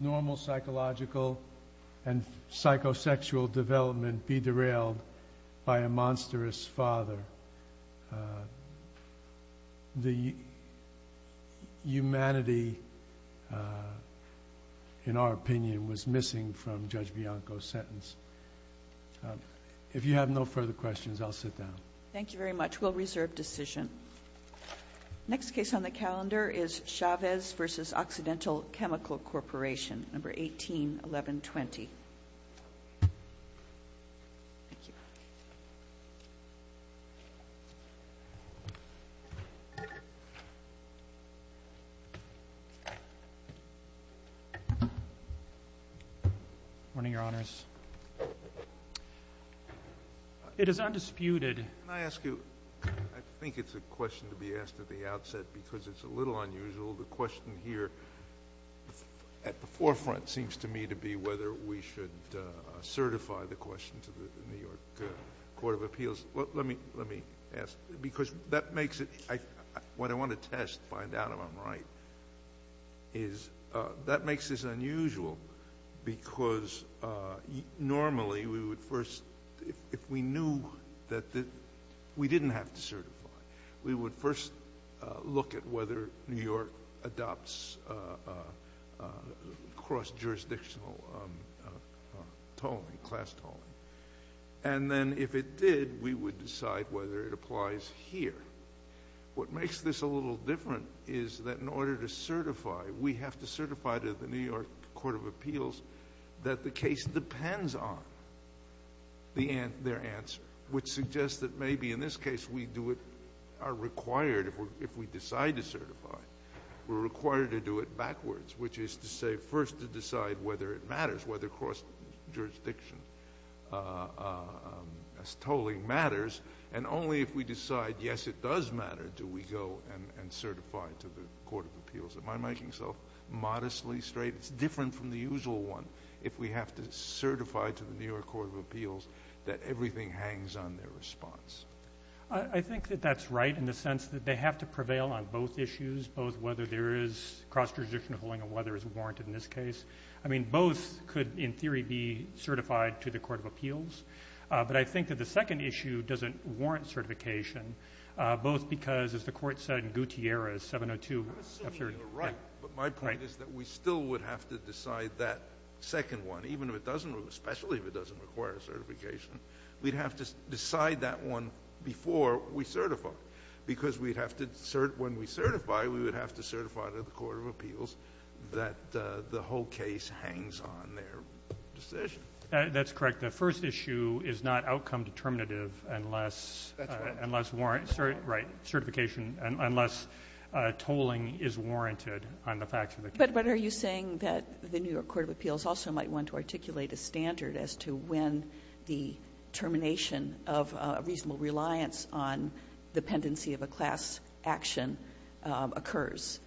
normal psychological and psychosexual development be derailed by a monstrous father. The humanity, in our opinion, was missing from Judge Bianco's sentence. If you have no further questions, I'll sit down. Thank you very much. We'll reserve decision. Next case on the calendar is Chavez v. Occidental Chemical Corporation, No. 181120. Good morning, Your Honors. It is undisputed. Can I ask you, I think it's a question to be asked at the outset because it's a little unusual. The question here at the forefront seems to me to be whether we should certify the question to the New York Court of Appeals. Let me ask, because that makes it, what I want to test, find out if I'm right, is that makes this unusual because normally we would first, if we knew that we didn't have to certify, we would first look at whether New York adopts cross-jurisdictional tolling, class tolling. And then if it did, we would decide whether it applies here. What makes this a little different is that in order to certify, we have to certify to the New York Court of Appeals that the case depends on their answer, which suggests that maybe in this case we do it, are required if we decide to certify, we're required to do it backwards, which is to say first to decide whether it matters, whether cross-jurisdiction as tolling matters. And only if we decide, yes, it does matter, do we go and certify to the Court of Appeals. Am I making myself modestly straight? It's different from the usual one. If we have to certify to the New York Court of Appeals that everything hangs on their response. I think that that's right in the sense that they have to prevail on both issues, both whether there is cross-jurisdictional tolling and whether it's warranted in this case. I mean, both could, in theory, be certified to the Court of Appeals. But I think that the second issue doesn't warrant certification, both because, as the Court said in Gutierrez, 702. Sotomayor, you're right. But my point is that we still would have to decide that second one, even if it doesn't work, especially if it doesn't require certification. We'd have to decide that one before we certify, because we'd have to cert when we certify, we would have to certify to the Court of Appeals that the whole case hangs on their decision. That's correct. The first issue is not outcome determinative unless warranted. Right. Certification, unless tolling is warranted on the facts of the case. But are you saying that the New York Court of Appeals also might want to articulate a standard as to when the termination of a reasonable reliance on dependency of a class action occurs?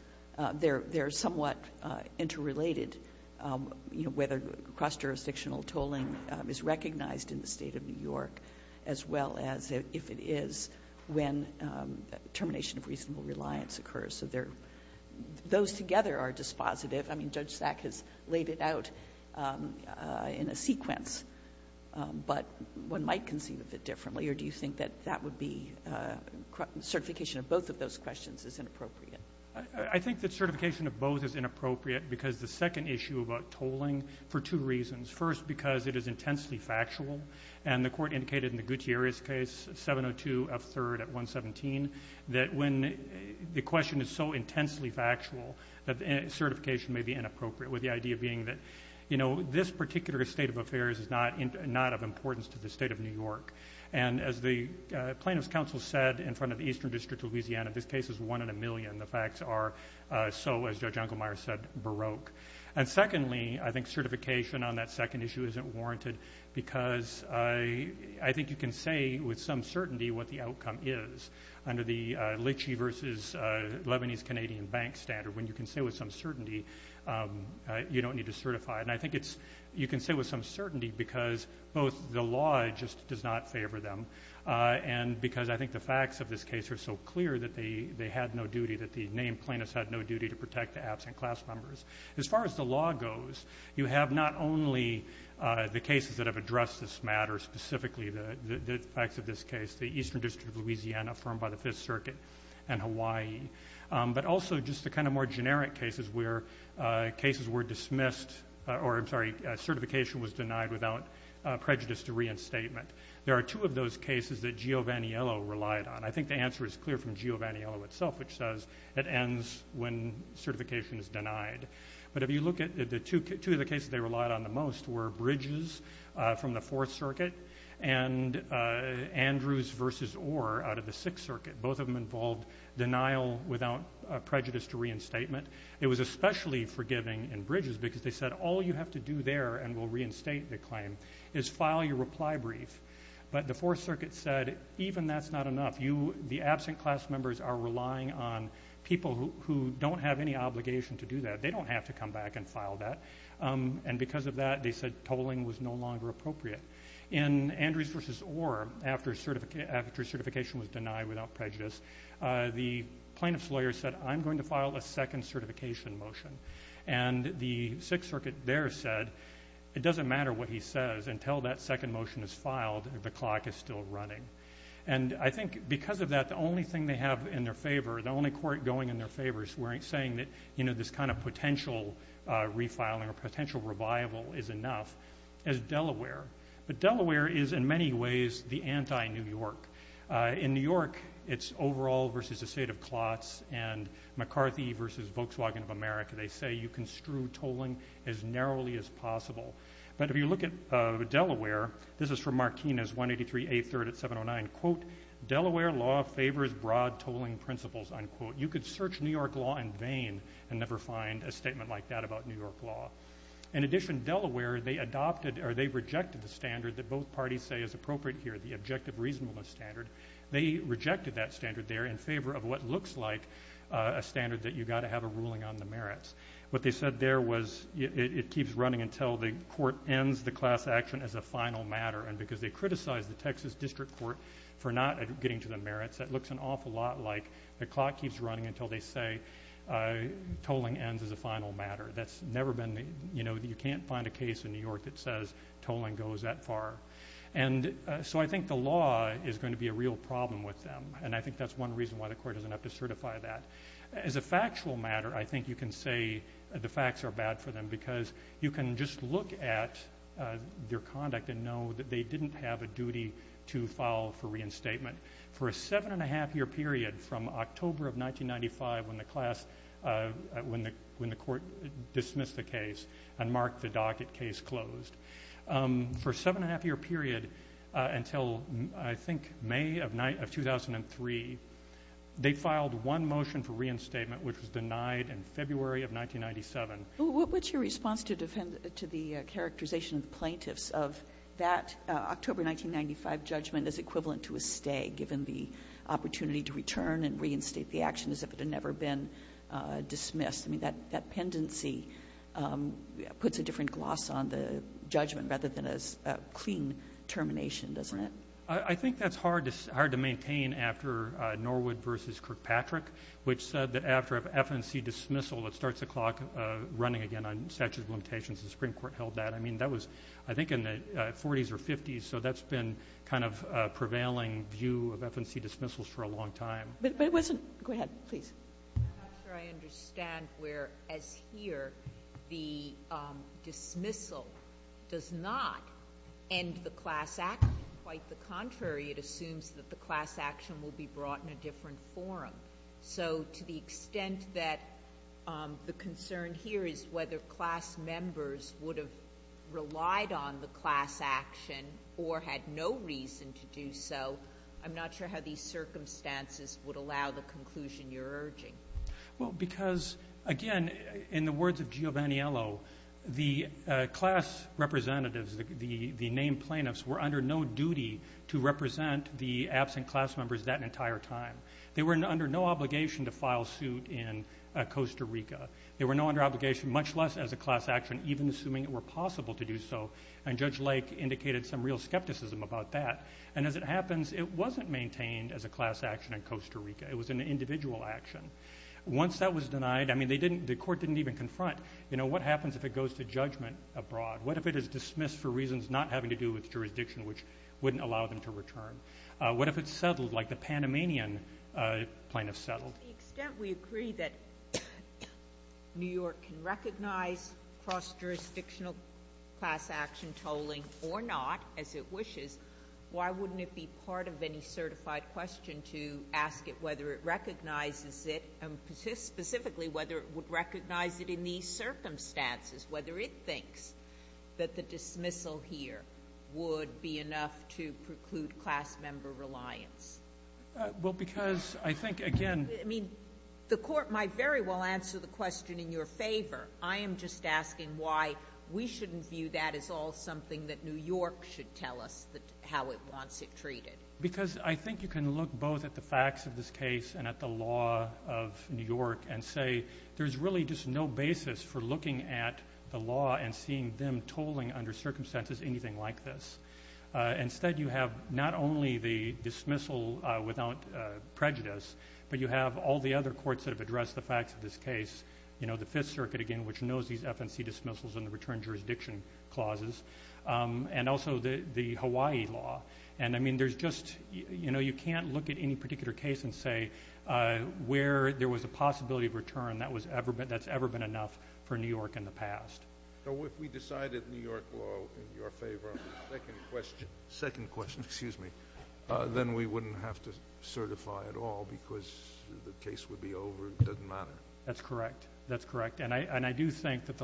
They're somewhat interrelated, you know, whether cross-jurisdictional tolling is recognized in the State of New York, as well as if it is when termination of reasonable reliance occurs. So those together are dispositive. I mean, Judge Sack has laid it out in a sequence. But one might conceive of it differently. Or do you think that that would be – certification of both of those questions is inappropriate? I think that certification of both is inappropriate, because the second issue about tolling, for two reasons. First, because it is intensely factual. And the Court indicated in the Gutierrez case, 702 of 3rd at 117, that when the question is so intensely factual that certification may be inappropriate, with the idea being that, you know, this particular state of affairs is not of importance to the State of New York. And as the plaintiffs' counsel said in front of the Eastern District of Louisiana, this case is one in a million. The facts are so, as Judge Unkelmeyer said, baroque. And secondly, I think certification on that second issue isn't warranted, because I think you can say with some certainty what the outcome is under the Lichy v. Lebanese Canadian Bank standard. When you can say with some certainty, you don't need to certify it. And I think you can say with some certainty because both the law just does not favor them and because I think the facts of this case are so clear that they had no duty, that the named plaintiffs had no duty to protect the absent class members. As far as the law goes, you have not only the cases that have addressed this matter, specifically the facts of this case, the Eastern District of Louisiana, affirmed by the Fifth Circuit, and Hawaii. But also just the kind of more generic cases where cases were dismissed or certification was denied without prejudice to reinstatement. There are two of those cases that Giovaniello relied on. I think the answer is clear from Giovaniello itself, which says it ends when certification is denied. But if you look at two of the cases they relied on the most were Bridges from the Fourth Circuit and Andrews v. Orr out of the Sixth Circuit. Both of them involved denial without prejudice to reinstatement. It was especially forgiving in Bridges because they said all you have to do there and we'll reinstate the claim is file your reply brief. But the Fourth Circuit said even that's not enough. The absent class members are relying on people who don't have any obligation to do that. They don't have to come back and file that. And because of that, they said tolling was no longer appropriate. In Andrews v. Orr, after certification was denied without prejudice, the plaintiff's lawyer said I'm going to file a second certification motion. And the Sixth Circuit there said it doesn't matter what he says until that second motion is filed and the clock is still running. And I think because of that, the only thing they have in their favor, the only court going in their favor is saying that this kind of potential refiling or potential revival is enough is Delaware. But Delaware is in many ways the anti-New York. In New York, it's overall versus the state of clots and McCarthy versus Volkswagen of America. They say you can strew tolling as narrowly as possible. But if you look at Delaware, this is from Marquinez, 183A3rd at 709, quote, Delaware law favors broad tolling principles, unquote. You could search New York law in vain and never find a statement like that about New York law. In addition, Delaware, they adopted or they rejected the standard that both parties say is appropriate here, the objective reasonableness standard. They rejected that standard there in favor of what looks like a standard that you've got to have a ruling on the merits. What they said there was it keeps running until the court ends the class action as a final matter. And because they criticized the Texas District Court for not getting to the merits, that looks an awful lot like the clock keeps running until they say tolling ends as a final matter. That's never been the, you know, you can't find a case in New York that says tolling goes that far. And so I think the law is going to be a real problem with them, and I think that's one reason why the court doesn't have to certify that. As a factual matter, I think you can say the facts are bad for them because you can just look at their conduct and know that they didn't have a duty to file for reinstatement. For a seven-and-a-half-year period from October of 1995 when the class, when the court dismissed the case and marked the docket case closed, for a seven-and-a-half-year period until I think May of 2003, they filed one motion for reinstatement, which was denied in February of 1997. What's your response to the characterization of the plaintiffs of that October 1995 judgment as equivalent to a stay given the opportunity to return and reinstate the action as if it had never been dismissed? I mean, that pendency puts a different gloss on the judgment rather than a clean termination, doesn't it? I think that's hard to maintain after Norwood v. Kirkpatrick, which said that after an FNC dismissal, it starts the clock running again on statutes of limitations. The Supreme Court held that. I mean, that was I think in the 40s or 50s, so that's been kind of a prevailing view of FNC dismissals for a long time. But it wasn't. Go ahead, please. I'm not sure I understand where, as here, the dismissal does not end the class action. Quite the contrary, it assumes that the class action will be brought in a different forum. So to the extent that the concern here is whether class members would have relied on the class action or had no reason to do so, I'm not sure how these circumstances would allow the conclusion you're urging. Well, because, again, in the words of Giovaniello, the class representatives, the named plaintiffs, were under no duty to represent the absent class members that entire time. They were under no obligation to file suit in Costa Rica. They were no longer under obligation, much less as a class action, even assuming it were possible to do so. And Judge Lake indicated some real skepticism about that. And as it happens, it wasn't maintained as a class action in Costa Rica. It was an individual action. Once that was denied, I mean, the court didn't even confront, you know, what happens if it goes to judgment abroad? What if it is dismissed for reasons not having to do with jurisdiction, which wouldn't allow them to return? What if it's settled like the Panamanian plaintiffs settled? Well, to the extent we agree that New York can recognize cross-jurisdictional class action tolling or not, as it wishes, why wouldn't it be part of any certified question to ask it whether it recognizes it, and specifically whether it would recognize it in these circumstances, whether it thinks that the dismissal here would be enough to preclude class member reliance? Well, because I think, again — I mean, the court might very well answer the question in your favor. I am just asking why we shouldn't view that as all something that New York should tell us how it wants it treated. Because I think you can look both at the facts of this case and at the law of New York and say there's really just no basis for looking at the law and seeing them tolling under circumstances anything like this. Instead, you have not only the dismissal without prejudice, but you have all the other courts that have addressed the facts of this case, the Fifth Circuit, again, which knows these FNC dismissals and the return jurisdiction clauses, and also the Hawaii law. And, I mean, you can't look at any particular case and say where there was a possibility of return that's ever been enough for New York in the past. So if we decided New York law in your favor, second question. Second question. Excuse me. Then we wouldn't have to certify at all because the case would be over. It doesn't matter. That's correct. That's correct. And I do think that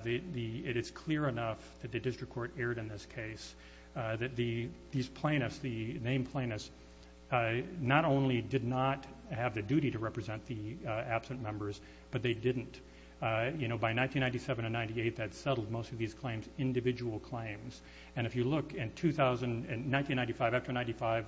it is clear enough that the district court erred in this case that these plaintiffs, the named plaintiffs, not only did not have the duty to represent the absent members, but they didn't. You know, by 1997 and 1998, that settled most of these claims, individual claims. And if you look, in 1995, after 1995,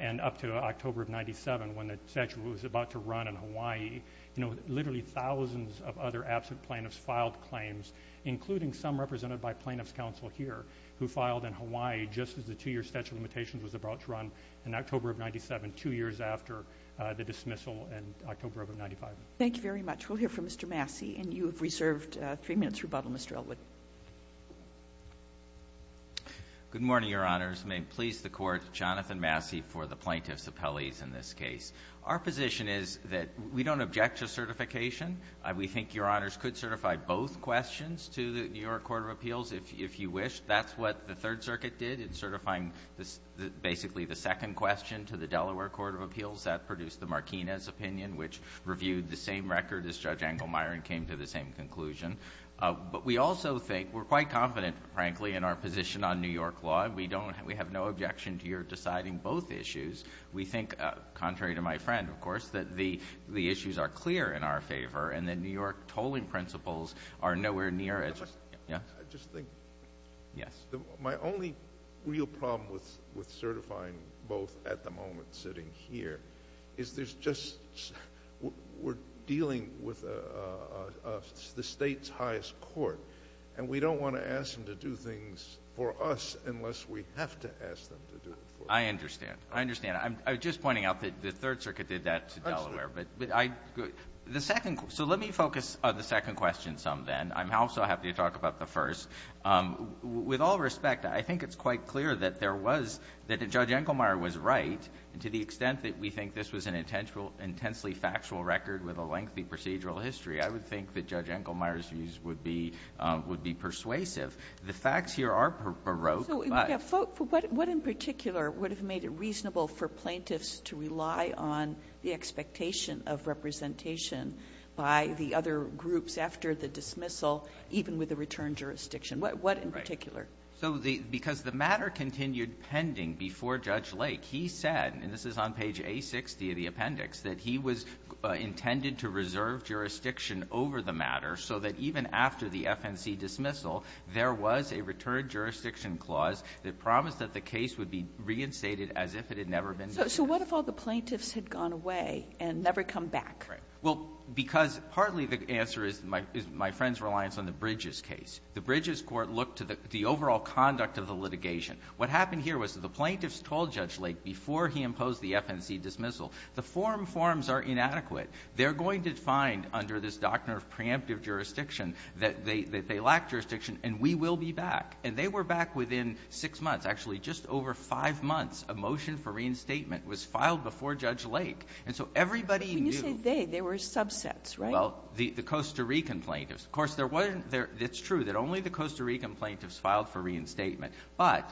and up to October of 1997, when the statute was about to run in Hawaii, you know, literally thousands of other absent plaintiffs filed claims, including some represented by plaintiffs' counsel here who filed in Hawaii just as the two-year statute of limitations was about to run in October of 1997, two years after the dismissal in October of 1995. Thank you very much. We'll hear from Mr. Massey. And you have reserved three minutes rebuttal, Mr. Elwood. Good morning, Your Honors. May it please the Court, Jonathan Massey for the plaintiffs' appellees in this case. Our position is that we don't object to certification. We think Your Honors could certify both questions to the New York Court of Appeals if you wish. That's what the Third Circuit did in certifying basically the second question to the Delaware Court of Appeals. That produced the Marquinez opinion, which reviewed the same record as Judge Engelmeyer and came to the same conclusion. But we also think we're quite confident, frankly, in our position on New York law, and we have no objection to your deciding both issues. We think, contrary to my friend, of course, that the issues are clear in our favor and that New York tolling principles are nowhere near as— I just think my only real problem with certifying both at the moment sitting here is there's just—we're dealing with the State's highest court, and we don't want to ask them to do things for us unless we have to ask them to do it for us. I understand. I understand. I'm just pointing out that the Third Circuit did that to Delaware. Absolutely. But I—the second—so let me focus on the second question some, then. I'm also happy to talk about the first. With all respect, I think it's quite clear that there was—that Judge Engelmeyer was right, and to the extent that we think this was an intensely factual record with a lengthy procedural history, I would think that Judge Engelmeyer's views would be persuasive. The facts here are baroque, but— So what in particular would have made it reasonable for plaintiffs to rely on the expectation of representation by the other groups after the dismissal, even with the return jurisdiction? What in particular? So the—because the matter continued pending before Judge Lake. He said, and this is on page A60 of the appendix, that he was intended to reserve jurisdiction over the matter so that even after the FNC dismissal, there was a return jurisdiction clause that promised that the case would be reinstated as if it had never been dismissed. So what if all the plaintiffs had gone away and never come back? Well, because partly the answer is my friend's reliance on the Bridges case. The Bridges court looked to the overall conduct of the litigation. What happened here was that the plaintiffs told Judge Lake before he imposed the FNC dismissal, the forum forms are inadequate. They're going to find under this doctrine of preemptive jurisdiction that they lack jurisdiction, and we will be back. And they were back within six months. Actually, just over five months, a motion for reinstatement was filed before Judge Lake. And so everybody knew— But when you say they, they were subsets, right? Well, the Costa Rican plaintiffs. Of course, there wasn't — it's true that only the Costa Rican plaintiffs filed for reinstatement. But,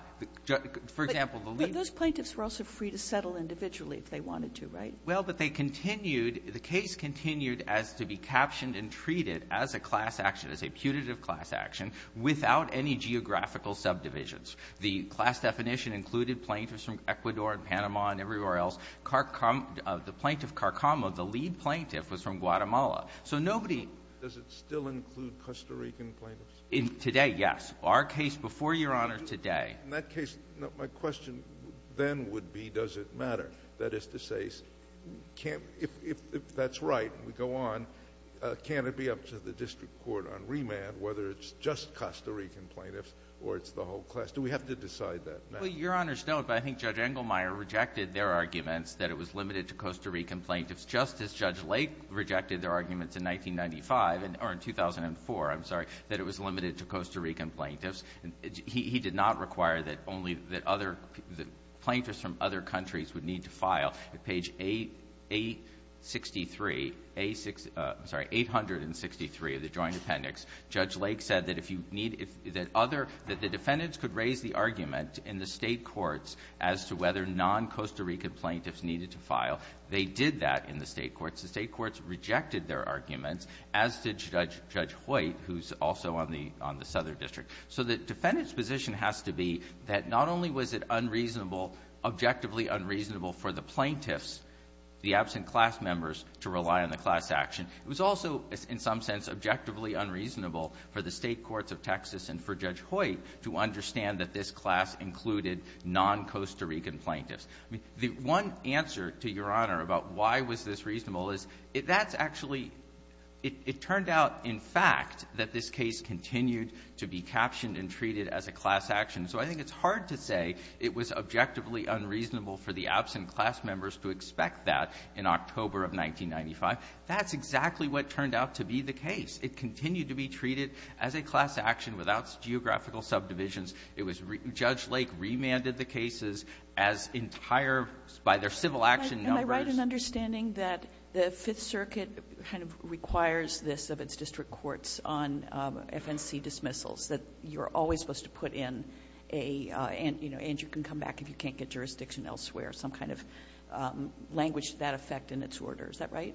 for example, the lead— But those plaintiffs were also free to settle individually if they wanted to, right? Well, but they continued — the case continued as to be captioned and treated as a class action, as a putative class action, without any geographical subdivisions. The class definition included plaintiffs from Ecuador and Panama and everywhere else. The Plaintiff Carcamo, the lead plaintiff, was from Guatemala. So nobody— Does it still include Costa Rican plaintiffs? In today, yes. Our case before Your Honor today— In that case, my question then would be, does it matter? That is to say, can't — if that's right, we go on, can it be up to the district court on remand, whether it's just Costa Rican plaintiffs or it's the whole class? Do we have to decide that now? Well, Your Honor, no. But I think Judge Engelmeyer rejected their arguments that it was limited to Costa Rican plaintiffs just as Judge Lake rejected their argument in 1995 — or in 2004, I'm sorry — that it was limited to Costa Rican plaintiffs. He did not require that only — that other — that plaintiffs from other countries would need to file. At page 863 — I'm sorry, 863 of the Joint Appendix, Judge Lake said that if you need — that other — that the defendants could raise the argument in the State courts as to whether non-Costa Rican plaintiffs needed to file, they did that in the State courts. The State courts rejected their arguments, as did Judge Hoyt, who's also on the — on the Southern District. So the defendant's position has to be that not only was it unreasonable, objectively unreasonable, for the plaintiffs, the absent class members, to rely on the class action, it was also, in some sense, objectively unreasonable for the State courts of Texas and for Judge Hoyt to understand that this class included non-Costa Rican plaintiffs. I mean, the one answer to Your Honor about why was this reasonable is, that's actually — it turned out, in fact, that this case continued to be captioned and treated as a class action. So I think it's hard to say it was objectively unreasonable for the absent class members to expect that in October of 1995. That's exactly what turned out to be the case. It continued to be treated as a class action. And it was the same case in the other two critical subdivisions. It was — Judge Lake remanded the cases as entire — by their civil action numbers. Am I right in understanding that the Fifth Circuit kind of requires this of its district courts on FNC dismissals, that you're always supposed to put in a — you know, Andrew can come back if you can't get jurisdiction elsewhere, some kind of language to that effect in its order. Is that right?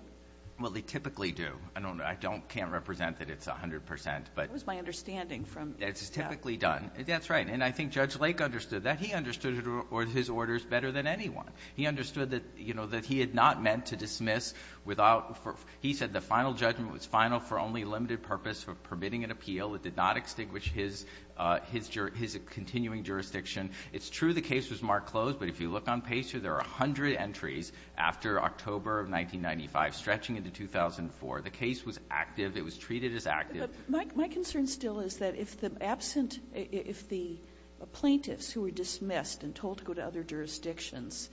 Well, they typically do. I don't — I don't — can't represent that it's 100 percent, but — That was my understanding from — It's typically done. That's right. And I think Judge Lake understood that. He understood it or his orders better than anyone. He understood that, you know, that he had not meant to dismiss without — he said the final judgment was final for only limited purpose of permitting an appeal. It did not extinguish his — his continuing jurisdiction. It's true the case was marked closed, but if you look on PACER, there were 100 entries after October of 1995, stretching into 2004. The case was active. It was treated as active. But my concern still is that if the absent — if the plaintiffs who were dismissed and told to go to other jurisdictions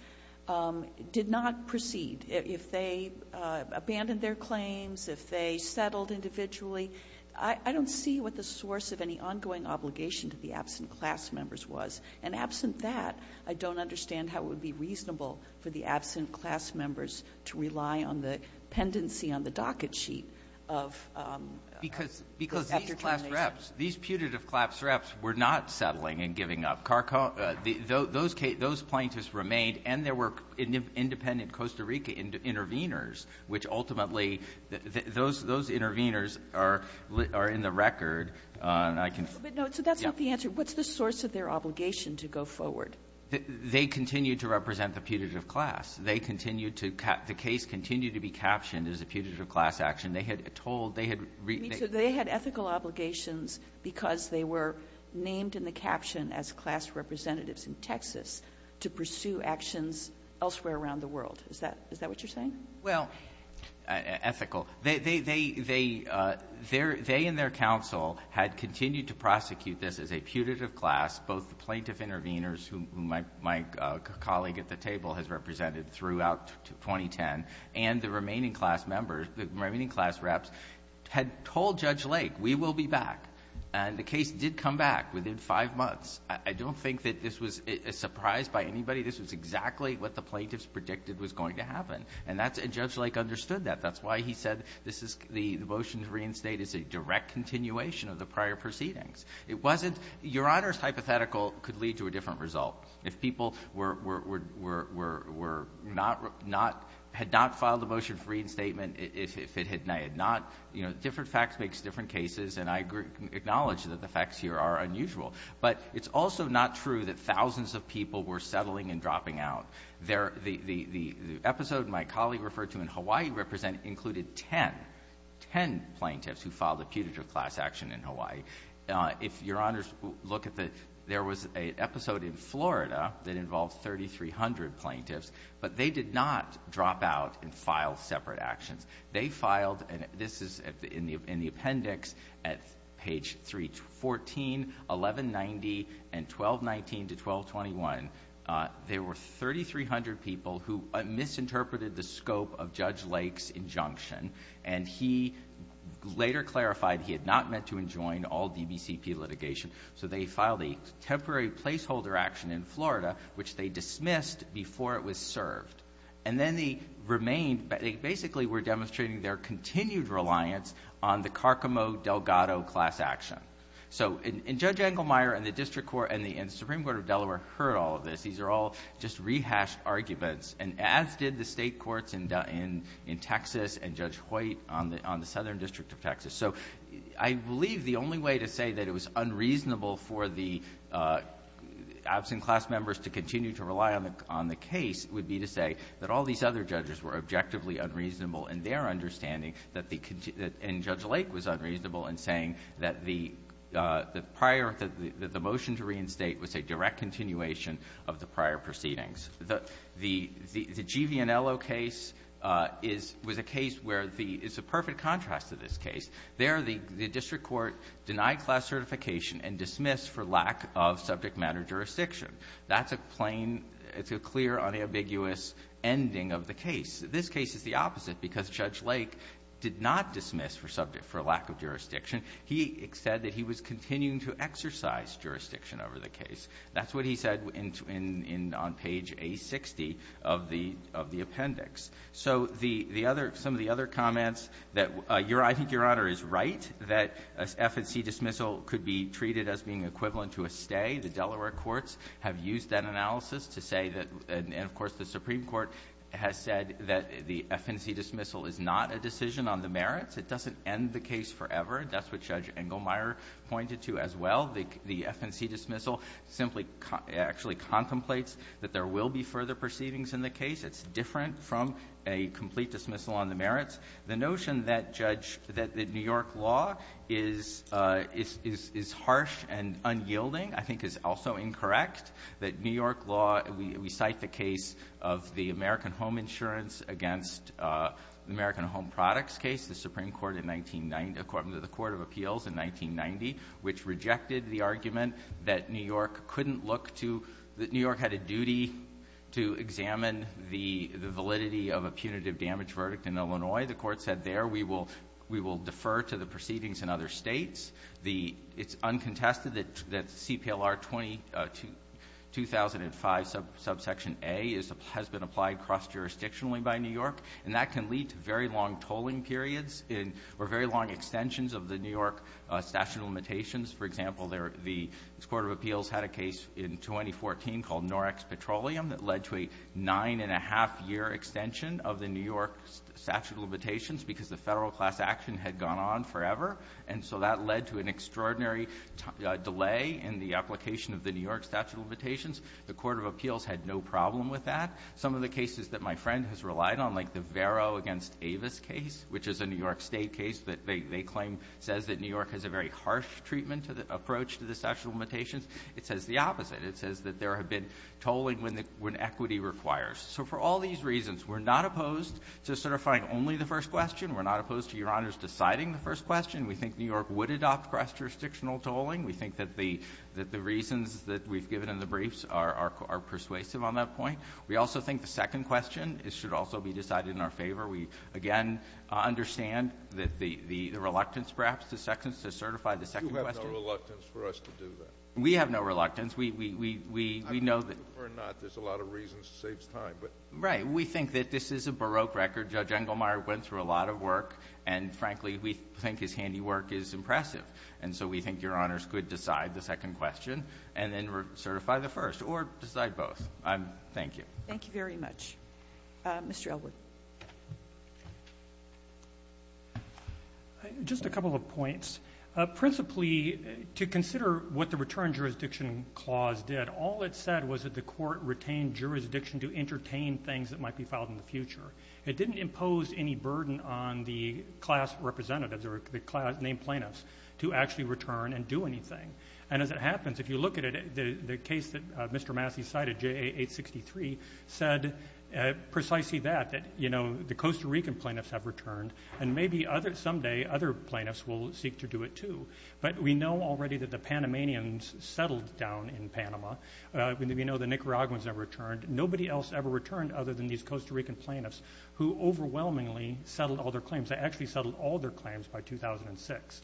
did not proceed, if they abandoned their claims, if they settled individually, I don't see what the source of any ongoing obligation to the absent class members was. And absent that, I don't understand how it would be reasonable for the absent class members to rely on the pendency on the docket sheet of — Because — because these class reps, these putative class reps were not settling and giving up. Those plaintiffs remained, and there were independent Costa Rica intervenors, which ultimately — those intervenors are in the record. And I can — But, no, so that's not the answer. What's the source of their obligation to go forward? They continue to represent the putative class. They continue to — the case continued to be captioned as a putative class action. They had told — they had — So they had ethical obligations because they were named in the caption as class representatives in Texas to pursue actions elsewhere around the world. Is that — is that what you're saying? Well — Ethical. They — they — they — they and their counsel had continued to prosecute this as a putative class. Both the plaintiff intervenors, who my — my colleague at the table has represented throughout 2010, and the remaining class members, the remaining class reps, had told Judge Lake, we will be back. And the case did come back within five months. I don't think that this was a surprise by anybody. This was exactly what the plaintiffs predicted was going to happen. And that's — and Judge Lake understood that. That's why he said this is — the motion to reinstate is a direct continuation of the prior proceedings. It wasn't — Your Honor's hypothetical could lead to a different result. If people were — were — were — were — were not — not — had not filed a motion for reinstatement if it had not — you know, different facts makes different cases, and I acknowledge that the facts here are unusual. But it's also not true that thousands of people were settling and dropping out. There — the — the — the episode my colleague referred to in Hawaii represented included 10 — 10 plaintiffs who filed a putative class action in Hawaii. If Your Honors look at the — there was an episode in Florida that involved 3,300 plaintiffs, but they did not drop out and file separate actions. They filed — and this is in the — in the appendix at page 314, 1190, and 1219 to 1221. There were 3,300 people who misinterpreted the scope of Judge Lake's injunction. And he later clarified he had not meant to enjoin all DBCP litigation. So they filed a temporary placeholder action in Florida, which they dismissed before it was served. And then the remain — they basically were demonstrating their continued reliance on the Carcamo-Delgado class action. So — and Judge Engelmeyer and the district court and the — and the Supreme Court of Delaware heard all of this. These are all just rehashed arguments, and as did the State courts in — in Texas and Judge Hoyt on the — on the Southern District of Texas. So I believe the only way to say that it was unreasonable for the absent class members to continue to rely on the — on the case would be to say that all these other judges were objectively unreasonable in their understanding that the — and Judge Lake was unreasonable in saying that the prior — that the motion to reinstate was a direct continuation of the prior proceedings. The — the G. V. Anello case is — was a case where the — is a perfect and dismissed for lack of subject matter jurisdiction. That's a plain — it's a clear, unambiguous ending of the case. This case is the opposite because Judge Lake did not dismiss for subject — for lack of jurisdiction. He said that he was continuing to exercise jurisdiction over the case. That's what he said in — on page A60 of the — of the appendix. So the — the other — some of the other comments that your — I think Your Honor is right, that an FNC dismissal could be treated as being equivalent to a stay. The Delaware courts have used that analysis to say that — and, of course, the Supreme Court has said that the FNC dismissal is not a decision on the merits. It doesn't end the case forever. That's what Judge Engelmeyer pointed to as well. The — the FNC dismissal simply actually contemplates that there will be further proceedings in the case. It's different from a complete dismissal on the merits. The notion that Judge — that New York law is — is harsh and unyielding, I think, is also incorrect, that New York law — we cite the case of the American Home Insurance against the American Home Products case, the Supreme Court in 1990 — according to the Court of Appeals in 1990, which rejected the argument that New York couldn't look to — that New York had a duty to examine the — the validity of a punitive damage verdict in Illinois. The Court said there we will — we will defer to the proceedings in other States. The — it's uncontested that — that the CPLR-2005 subsection A is — has been applied cross-jurisdictionally by New York, and that can lead to very long tolling periods in — or very long extensions of the New York statute of limitations. For example, there — the Court of Appeals had a case in 2014 called Norex Petroleum that led to a nine-and-a-half-year extension of the New York statute of limitations because the federal class action had gone on forever. And so that led to an extraordinary delay in the application of the New York statute of limitations. The Court of Appeals had no problem with that. Some of the cases that my friend has relied on, like the Vero against Avis case, which is a New York State case that they — they claim says that New York has a very harsh treatment approach to the statute of limitations, it says the opposite. It says that there have been tolling when the — when equity requires. So for all these reasons, we're not opposed to certifying only the first question. We're not opposed to Your Honors deciding the first question. We think New York would adopt cross-jurisdictional tolling. We think that the — that the reasons that we've given in the briefs are persuasive on that point. We also think the second question should also be decided in our favor. We, again, understand that the — the reluctance, perhaps, to second — to certify the second question. Kennedy, you have no reluctance for us to do that. We have no reluctance. We — we — we know that — I mean, whether or not there's a lot of reasons saves time, but — Right. We think that this is a Baroque record. Judge Engelmeyer went through a lot of work. And, frankly, we think his handiwork is impressive. And so we think Your Honors could decide the second question and then certify the first or decide both. Thank you. Thank you very much. Mr. Elwood. Just a couple of points. Principally, to consider what the return jurisdiction clause did, all it said was that the court retained jurisdiction to entertain things that might be filed in the future. It didn't impose any burden on the class representatives or the class — named plaintiffs to actually return and do anything. And as it happens, if you look at it, the case that Mr. Massey cited, J.A. 863, said precisely that, that, you know, the Costa Rican plaintiffs have returned, and maybe other — someday other plaintiffs will seek to do it, too. But we know already that the Panamanians settled down in Panama. We know the Nicaraguans have returned. Nobody else ever returned other than these Costa Rican plaintiffs, who overwhelmingly settled all their claims. They actually settled all their claims by 2006.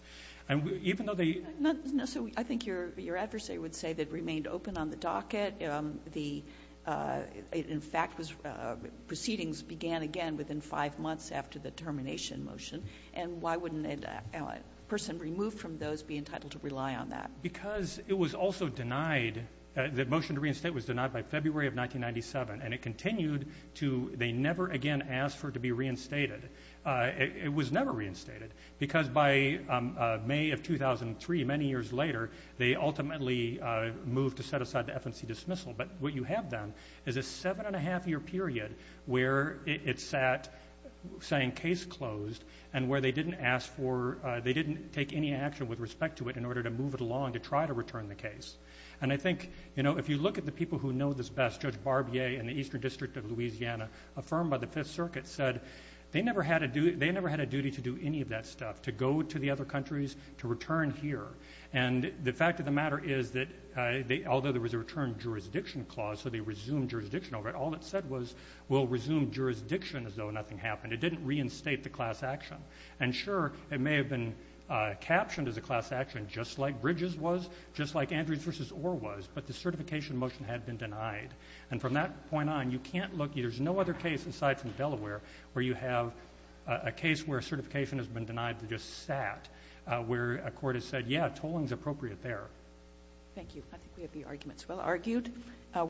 And even though they — No. So I think your adversary would say that it remained open on the docket. The — in fact, proceedings began again within five months after the termination motion. And why wouldn't a person removed from those be entitled to rely on that? Because it was also denied — the motion to reinstate was denied by February of 1997. And it continued to — they never again asked for it to be reinstated. It was never reinstated, because by May of 2003, many years later, they ultimately moved to set aside the FNC dismissal. But what you have then is a seven-and-a-half-year period where it sat saying case closed and where they didn't ask for — they didn't take any action with respect to it in order to move it along to try to return the case. And I think, you know, if you look at the case, they never had a duty to do any of that stuff, to go to the other countries to return here. And the fact of the matter is that although there was a return jurisdiction clause, so they resumed jurisdiction over it, all it said was, we'll resume jurisdiction as though nothing happened. It didn't reinstate the class action. And sure, it may have been captioned as a class action, just like Bridges was, just like Andrews v. Orr was, but the certification motion had been denied. And from that point on, you can't look — there's no other case aside from Delaware where you have a case where certification has been denied to just sat, where a court has said, yeah, tolling's appropriate there. Thank you. I think we have the arguments well argued.